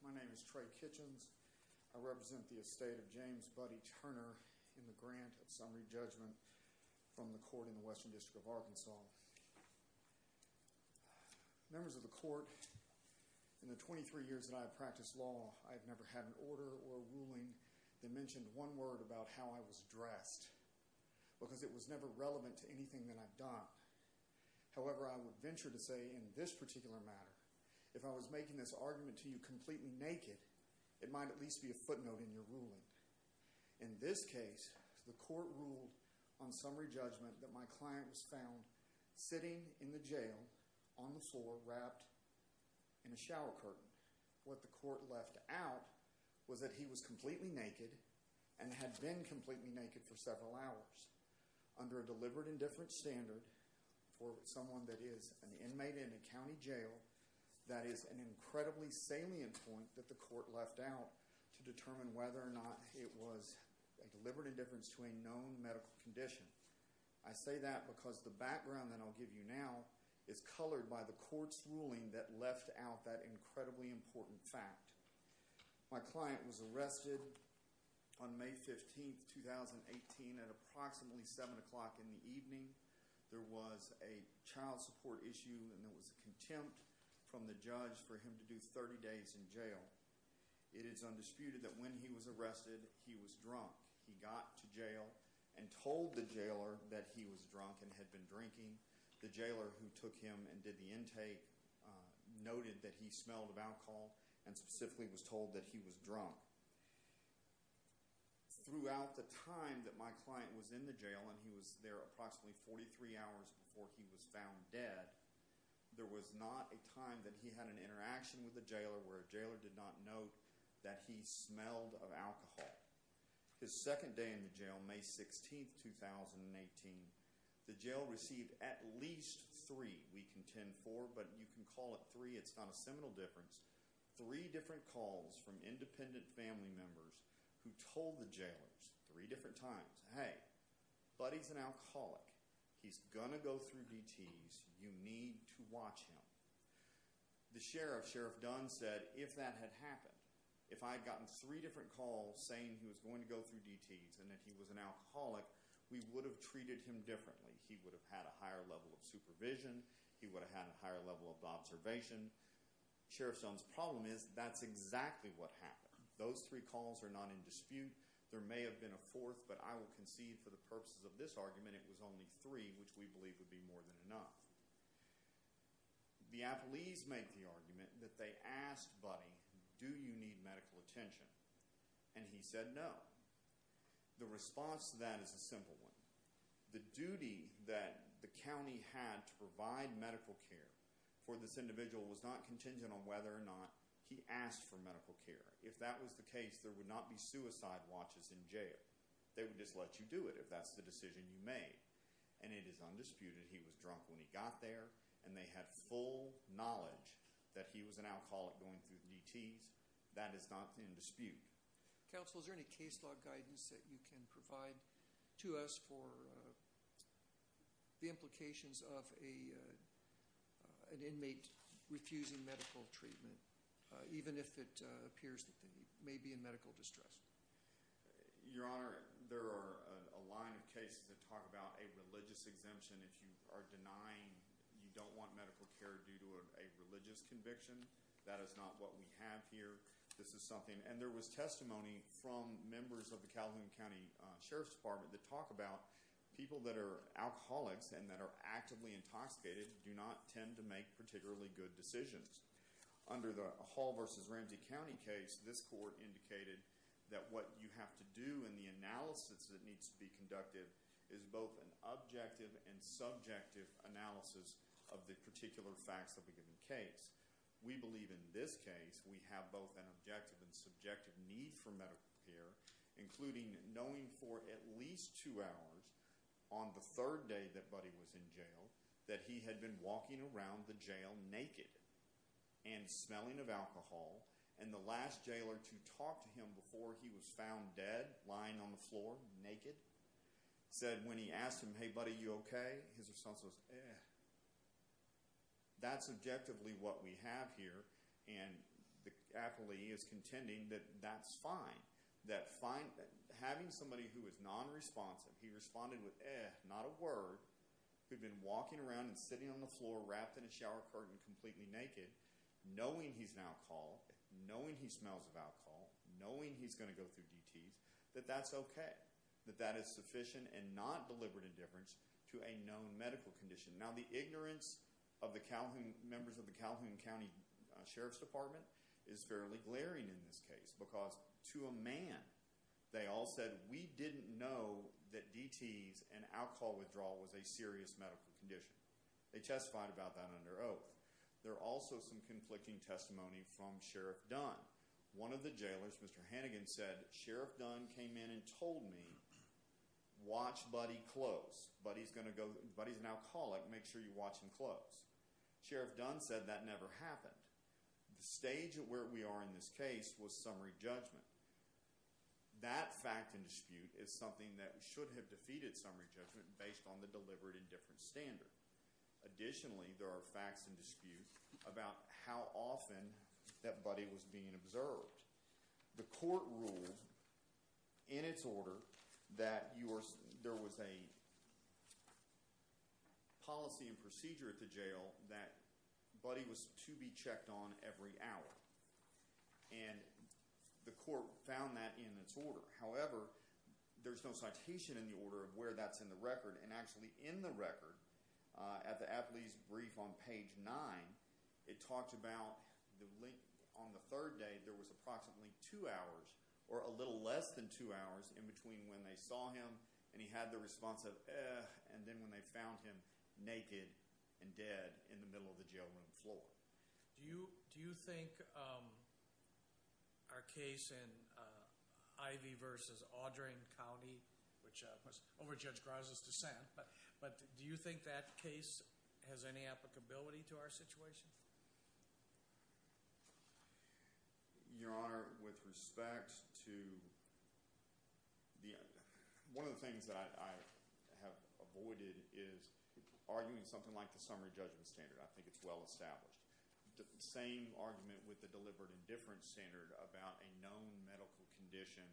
My name is Trey Kitchens. I represent the estate of James Buddy Turner in the grant of summary judgment from the court in the Western District of Arkansas. Members of the court, in the 23 years that I've practiced law, I've never had an order or ruling that mentioned one word about how I was dressed because it was never relevant to anything that I've done. However, I would venture to say in this particular matter, if I was making this argument to you completely naked, it might at least be a footnote in your ruling. In this case, the court ruled on summary judgment that my client was found sitting in the jail on the floor wrapped in a shower curtain. What the court left out was that he was completely naked and had been completely naked for several hours under a deliberate indifference standard for someone that is an inmate in a county jail that is an incredibly salient point that the court left out to determine whether or not it was a deliberate indifference to a known medical condition. I say that because the background that I'll give you now is colored by the court's ruling that left out that incredibly important fact. My client was arrested on Friday evening. There was a child support issue and there was contempt from the judge for him to do 30 days in jail. It is undisputed that when he was arrested, he was drunk. He got to jail and told the jailer that he was drunk and had been drinking. The jailer who took him and did the intake noted that he smelled of alcohol and specifically was told that he was drunk. Throughout the time that my client was in the jail and he was there approximately 43 hours before he was found dead, there was not a time that he had an interaction with the jailer where a jailer did not note that he smelled of alcohol. His second day in the jail, May 16th, 2018, the jail received at least three, we contend four, but you can call it three. It's not a seminal difference. Three different calls from independent family members who told the jailers three different times, hey, Buddy's an alcoholic. He's gonna go through DTs. You need to watch him. The sheriff, Sheriff Dunn, said if that had happened, if I had gotten three different calls saying he was going to go through DTs and that he was an alcoholic, we would have treated him differently. He would have had a higher level of supervision. He would have had a higher level of observation. Sheriff Dunn's problem is that's exactly what happened. Those three calls are not in dispute. There may have been a fourth, but I will concede for the purposes of this argument, it was only three, which we believe would be more than enough. The Applees make the argument that they asked Buddy, do you need medical attention? And he said no. The response to that is a simple one. The duty that the county had to provide medical care for this individual was not contingent on whether or not he asked for medical care. If that was the case, there would not be suicide watches in jail. They would just let you do it if that's the decision you made. And it is undisputed he was drunk when he got there and they had full knowledge that he was an alcoholic going through DTs. That is not in dispute. Counsel, is there any case law guidance that you can provide to us for the peers that may be in medical distress? Your Honor, there are a line of cases that talk about a religious exemption. If you are denying you don't want medical care due to a religious conviction, that is not what we have here. This is something, and there was testimony from members of the Calhoun County Sheriff's Department that talk about people that are alcoholics and that are actively intoxicated do not tend to make particularly good decisions. Under the Hall versus Ramsey County case, this court indicated that what you have to do and the analysis that needs to be conducted is both an objective and subjective analysis of the particular facts of a given case. We believe in this case we have both an objective and subjective need for medical care, including knowing for at least two hours on the third day that Buddy was in jail that he had been walking around the jail naked and smelling of alcohol, and the last jailer to talk to him before he was found dead, lying on the floor naked, said when he asked him, hey buddy, you okay? His response was, eh. That's objectively what we have here, and the affilee is contending that that's fine. That having somebody who is non-responsive, he responded with, eh, not a word. He'd been walking around and sitting on the floor and completely naked, knowing he's an alcohol, knowing he smells of alcohol, knowing he's going to go through DTs, that that's okay. That that is sufficient and not deliberate indifference to a known medical condition. Now the ignorance of the Calhoun, members of the Calhoun County Sheriff's Department is fairly glaring in this case because to a man they all said we didn't know that DTs and alcohol withdrawal was a serious medical condition. They testified about that under oath. There are also some conflicting testimony from Sheriff Dunn. One of the jailers, Mr. Hannigan, said Sheriff Dunn came in and told me, watch buddy close. Buddy's an alcoholic, make sure you watch him close. Sheriff Dunn said that never happened. The stage of where we are in this case was summary judgment. That fact and dispute is something that should have defeated summary judgment based on the deliberate indifference standard. Additionally, there are facts and disputes about how often that buddy was being observed. The court ruled in its order that there was a policy and procedure at the jail that buddy was to be checked on every hour. And the court found that in its order. However, there's no citation in the order of where that's in the record. And actually in the record, at the athlete's brief on page nine, it talks about the link on the third day. There was approximately two hours, or a little less than two hours, in between when they saw him and he had the response of, eh, and then when they found him naked and dead in the middle of the jail room floor. Do you think our case in Ivey versus Audrain County, which was over Judge Graza's dissent, but do you think that case has any applicability to our situation? Your Honor, with respect to the, one of the things that I have avoided is arguing something like the summary judgment standard. I think it's well established. The same argument with the deliberate indifference standard about a known medical condition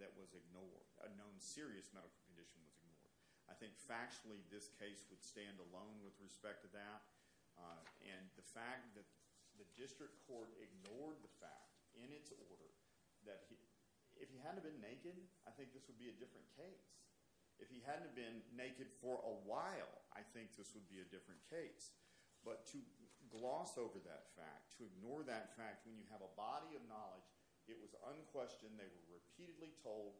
that was ignored, a known serious medical condition that was ignored. I think factually this case would stand alone with respect to that. And the fact that the district court ignored the fact in its order that if he hadn't have been naked, I think this would be a different case. If he hadn't have been naked for a while, I think this would be a different case. To gloss over that fact, to ignore that fact when you have a body of knowledge, it was unquestioned, they were repeatedly told,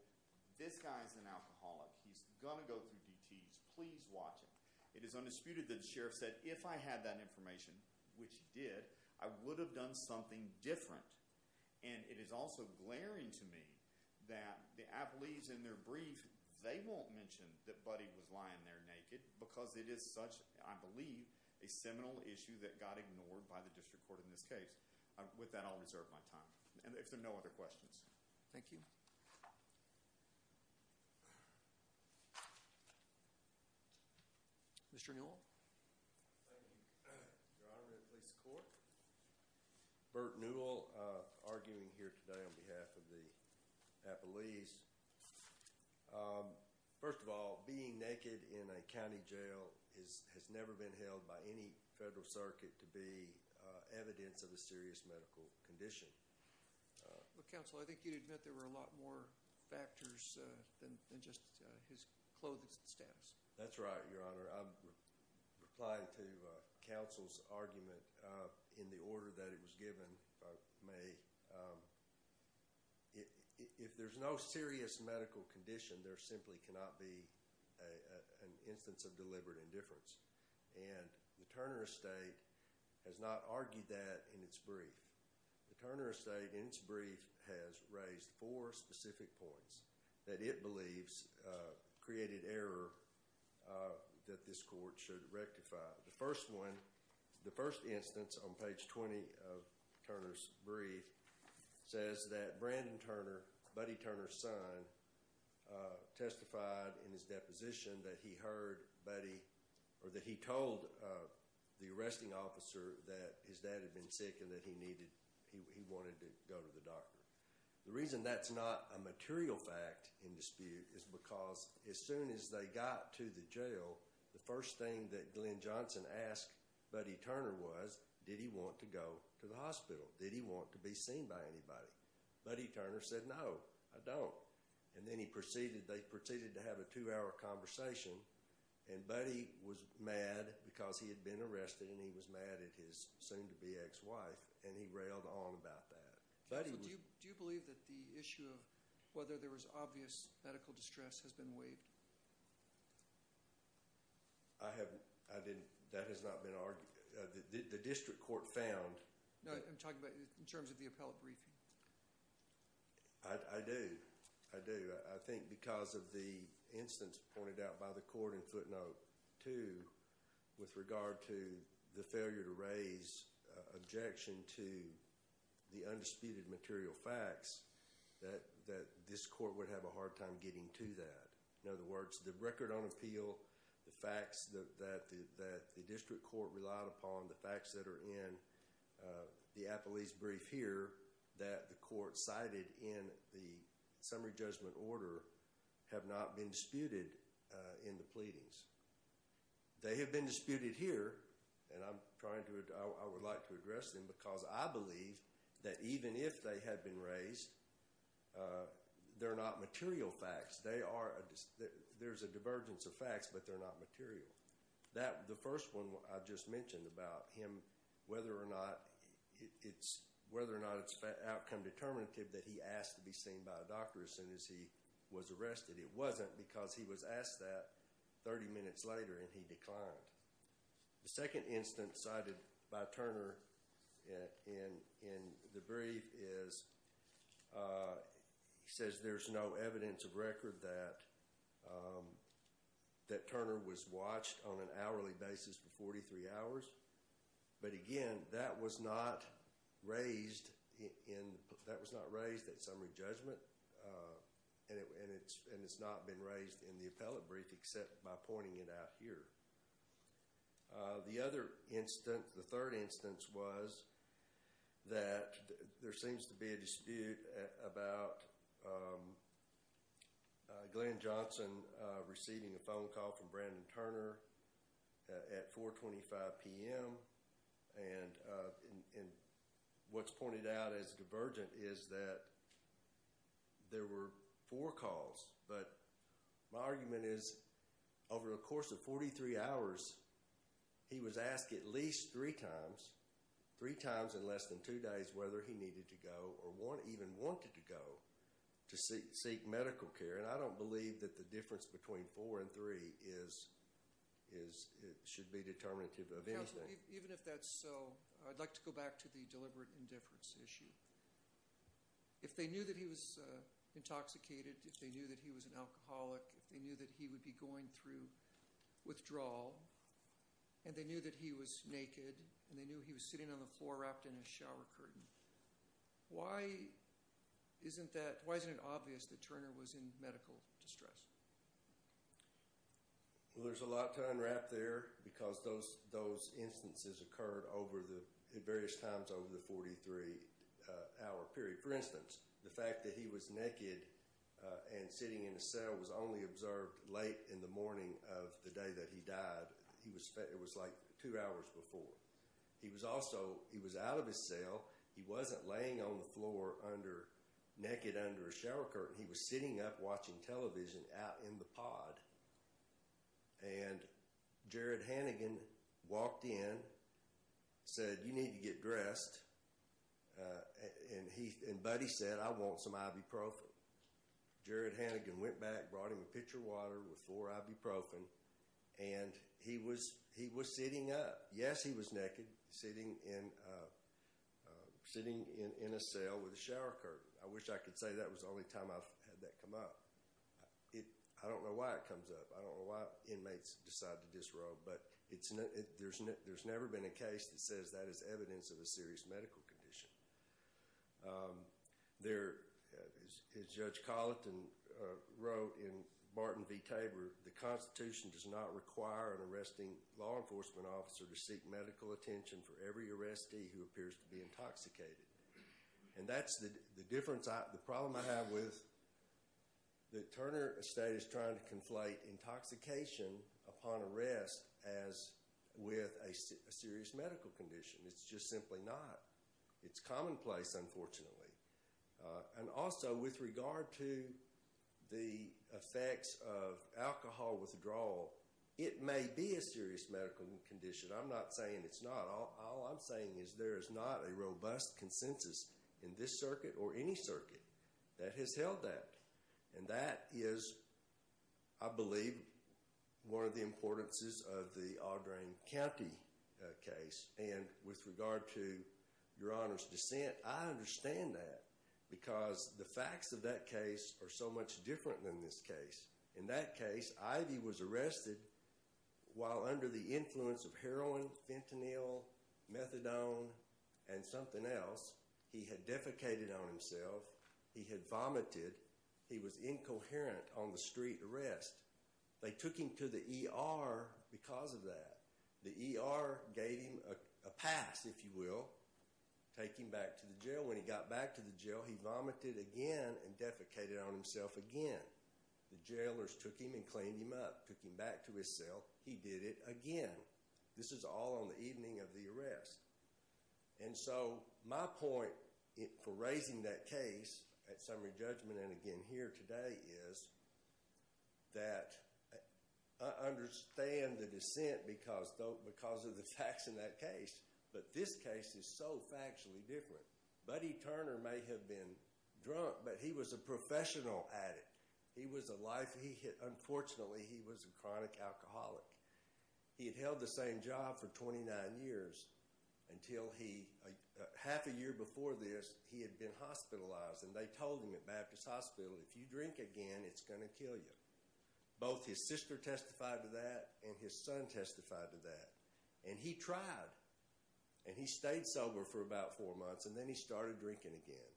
this guy's an alcoholic, he's gonna go through DTs, please watch him. It is undisputed that the sheriff said, if I had that information, which he did, I would have done something different. And it is also glaring to me that the appellees in their brief, they won't mention that Buddy was lying there naked because it is such, I believe, a seminal issue that got ignored by the district court in this case. With that, I'll reserve my time. And if there are no other questions. Thank you. Mr. Newell. Thank you, Your Honor, and police court. Bert Newell, arguing here today on behalf of the appellees. First of all, being naked in a county jail has never been held by any federal circuit to be evidence of a serious medical condition. Well, counsel, I think you'd admit there were a lot more factors than just his clothing status. That's right, Your Honor. I'm replying to counsel's argument in the order that it was given, if I may. If there's no serious medical condition, there simply cannot be an instance of deliberate indifference. And the Turner estate has not argued that in its brief. The Turner estate, in its brief, has raised four specific points that it believes created error that this court should rectify. The first one, the first instance on page 20 of Turner's brief, says that Brandon Turner, Buddy Turner's son, testified in his deposition that he heard Buddy, or that he told the arresting officer that his dad had been sick and that he needed, he wanted to go to the doctor. The reason that's not a material fact in dispute is because as soon as they got to the jail, the first thing that Glenn Johnson asked Buddy Turner was, did he want to go to the hospital? Did he want to be seen by anybody? Buddy Turner said, no, I don't. And then he proceeded, they proceeded to have a two hour conversation and Buddy was mad because he had been arrested and he was mad at his soon to be ex wife and he railed on about that. Buddy was... Counsel, do you believe that the issue of whether there was obvious medical distress has been waived? I have... I didn't... That has not been argued. The district court found... No, I'm talking about in terms of the appellate briefing. I do. I do. I think because of the instance pointed out by the court in footnote two, with regard to the failure to raise objection to the undisputed material facts, that this court would have a hard time getting to that. In other words, the record on appeal, the facts that the district court relied upon, the facts that are in the appellate's brief here, that the court cited in the summary judgment order have not been disputed in the pleadings. They have been disputed here and I'm trying to... I would like to address them because I believe that even if they had been raised, they're not material facts. They are... There's a divergence of facts but they're not material. That... The first one I just mentioned about him, whether or not it's... Whether or not it's outcome determinative that he asked to be seen by a doctor as soon as he was arrested. It wasn't because he was asked that 30 minutes later and he declined. The second instance cited by Turner in the brief is... He says there's no evidence of record that Turner was watched on an hourly basis for 43 hours. But again, that was not raised in... That was not raised at summary judgment and it's not been raised in the appellate brief except by pointing it out here. The other instance, the third instance was that there seems to be a dispute about Glenn Johnson receiving a phone call from Brandon Turner at 4.25 p.m. and what's pointed out as divergent is that there were four calls. But my argument is over a course of 43 hours, he was asked at least three times, three times in less than two days, whether he needed to go or even wanted to go to seek medical care. And I don't believe that the difference between four and three is... It should be determinative of anything. Even if that's so, I'd like to go back to the deliberate indifference issue. If they knew that he was intoxicated, if they knew that he was an alcoholic, if they knew that he would be going through withdrawal and they knew that he was naked and they knew he was sitting on the floor wrapped in a shower curtain, why isn't it obvious that Turner was in medical distress? Well, there's a lot to unwrap there because those instances occurred over the...at various times over the 43-hour period. For instance, the fact that he was naked and sitting in a cell was only observed late in the morning of the day that he died, it was like two hours before. He was also...he was out of his cell. He wasn't laying on the floor under...naked under a shower curtain. He was sitting up watching television out in the pod. And Jared Hannigan walked in, said, you need to get dressed. And he...and Buddy said, I want some ibuprofen. Jared Hannigan went back, brought him a pitcher of water with four ibuprofen. And he was...he was sitting up. Yes, he was naked, sitting in...sitting in a cell with a shower curtain. I wish I could say that was the only time I've had that come up. It...I don't know why it comes up. I don't know why inmates decide to disrobe, but it's...there's never been a case that says that is evidence of a serious medical condition. There...as Judge Colleton wrote in Barton v. Tabor, the Constitution does not require an arresting law enforcement officer to seek medical attention for every arrestee who appears to be intoxicated. And that's the difference I...the problem I have with that Turner Estate is trying to conflate intoxication upon arrest as with a serious medical condition. It's just simply not. It's commonplace, unfortunately. And also, with regard to the effects of alcohol withdrawal, it may be a serious medical condition. I'm not saying it's not. All I'm saying is there is not a robust consensus in this circuit or any circuit that has held that. And that is, I believe, one of the importances of the Audrain County case. And with regard to Your Honor's dissent, I understand that because the facts of that case are so much different than this case. In that case, Ivy was arrested while under the influence of heroin, fentanyl, methadone, and something else. He had defecated on himself. He had vomited. He was incoherent on the street arrest. They took him to the ER because of that. The ER gave him a pass, if you will, take him back to the jail. When he got back to the jail, he vomited again and defecated on himself again. The jailers took him and cleaned him up, took him back to his cell. He did it again. This is all on the evening of the arrest. And so my point for raising that case at summary judgment and again here today is that I understand the dissent because of the facts in that case. But this case is so factually different. Buddy Turner may have been drunk, but he was a professional addict. He was a life, he had, unfortunately, he was a chronic alcoholic. He had held the same job for 29 years until he, half a year before this, he had been hospitalized. And they told him at Baptist Hospital, if you drink again, it's going to kill you. Both his sister testified to that and his son testified to that. And he tried. And he stayed sober for about four months and then he started drinking again.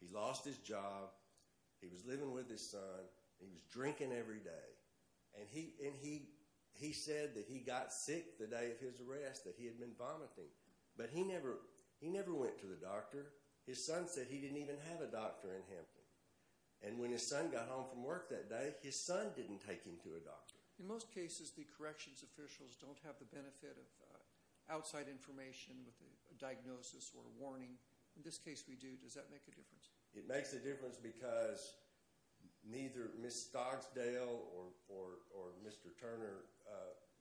He lost his job. He was living with his son. He was drinking every day. And he said that he got sick the day of his arrest, that he had been vomiting. But he never went to the doctor. His son said he didn't even have a doctor in Hampton. And when his son got home from work that day, his son didn't take him to a doctor. In most cases, the corrections officials don't have the benefit of outside information with a diagnosis or a warning. In this case, we do. Does that make a difference? It makes a difference because neither Ms. Stogsdale or Mr. Turner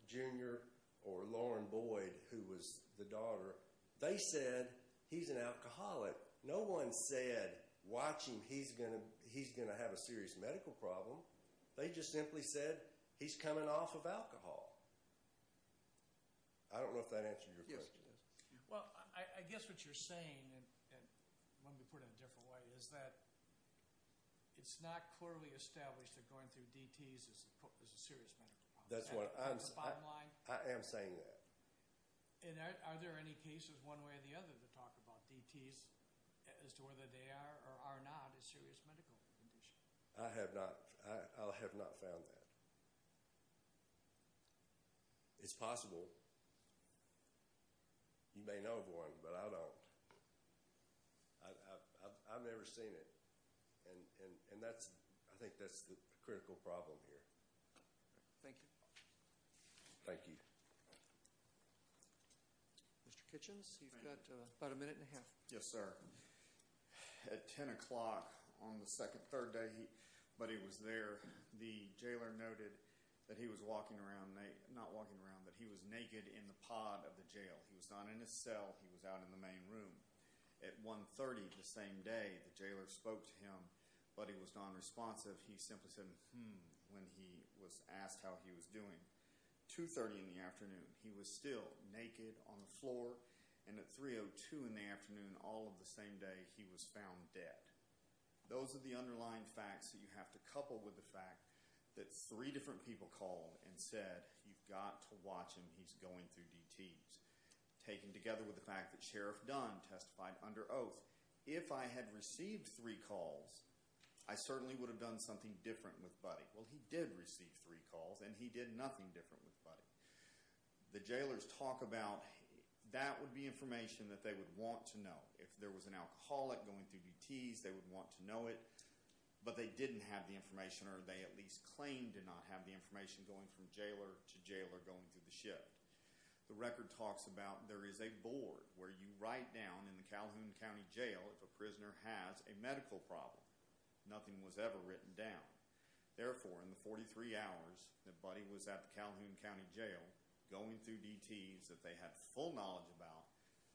Jr. or Lauren Boyd, who was the daughter, they said, he's an alcoholic. No one said, watch him, he's going to have a serious medical problem. They just simply said, he's coming off of alcohol. I don't know if that answered your question. Well, I guess what you're saying, and let me put it in a different way, is that it's not clearly established that going through DTs is a serious medical problem. That's what I'm saying. I am saying that. And are there any cases one way or the other that talk about DTs as to whether they are or are not a serious medical condition? I have not. I have not found that. It's possible. You may know of one, but I don't. I've never seen it. And that's, I think that's the critical problem here. Thank you. Thank you. Mr. Kitchens, you've got about a minute and a half. Yes, sir. At 10 o'clock on the second, third day, but he was there, the jailer noted that he was walking around, not walking around, but he was naked in the pod of the jail. He was not in his cell, he was out in the main room. At 1.30 the same day, the jailer spoke to him, but he was nonresponsive. He simply said, hmm, when he was asked how he was doing. 2.30 in the afternoon, he was still naked on the floor. And at 3.02 in the afternoon, all of the same day, he was found dead. Those are the underlying facts that you have to couple with the fact that three different people called and said, you've got to watch him. He's going through DTs. Taken together with the fact that Sheriff Dunn testified under oath. If I had received three calls, I certainly would have done something different with Buddy. Well, he did receive three calls, and he did nothing different with Buddy. The jailers talk about that would be information that they would want to know. If there was an alcoholic going through DTs, they would want to know it, but they didn't have the information, or they at least claimed to not have the information going from jailer to jailer going through the shift. The record talks about there is a board where you write down in the Calhoun County Jail if a prisoner has a medical problem. Nothing was ever written down. Therefore, in the 43 hours that Buddy was at the Calhoun County Jail, going through DTs that they had full knowledge about,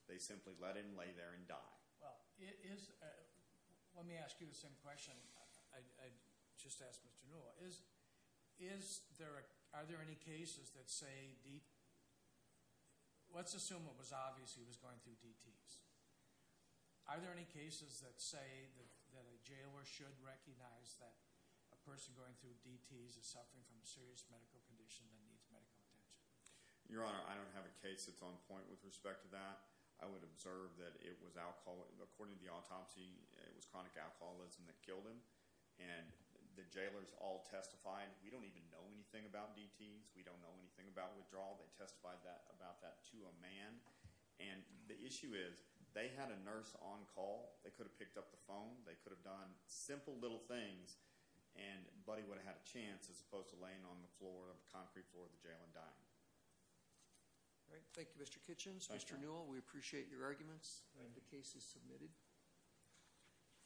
they simply let him lay there and die. Well, let me ask you the same question I just asked Mr. Newell. Are there any cases that say, let's assume it was obvious he was going through DTs. Are there any cases that say that a jailer should recognize that a person going through DTs is suffering from a serious medical condition that needs medical attention? Your Honor, I don't have a case that's on point with respect to that. I would observe that it was, according to the autopsy, it was chronic alcoholism that killed him. And the jailers all testified, we don't even know anything about DTs. We don't know anything about withdrawal. They testified about that to a man. And the issue is, they had a nurse on call. They could have picked up the phone. They could have done simple little things and Buddy would have had a chance as opposed to laying on the floor of the concrete floor of the jail and dying. All right, thank you Mr. Kitchens. Mr. Newell, we appreciate your arguments. The case is submitted.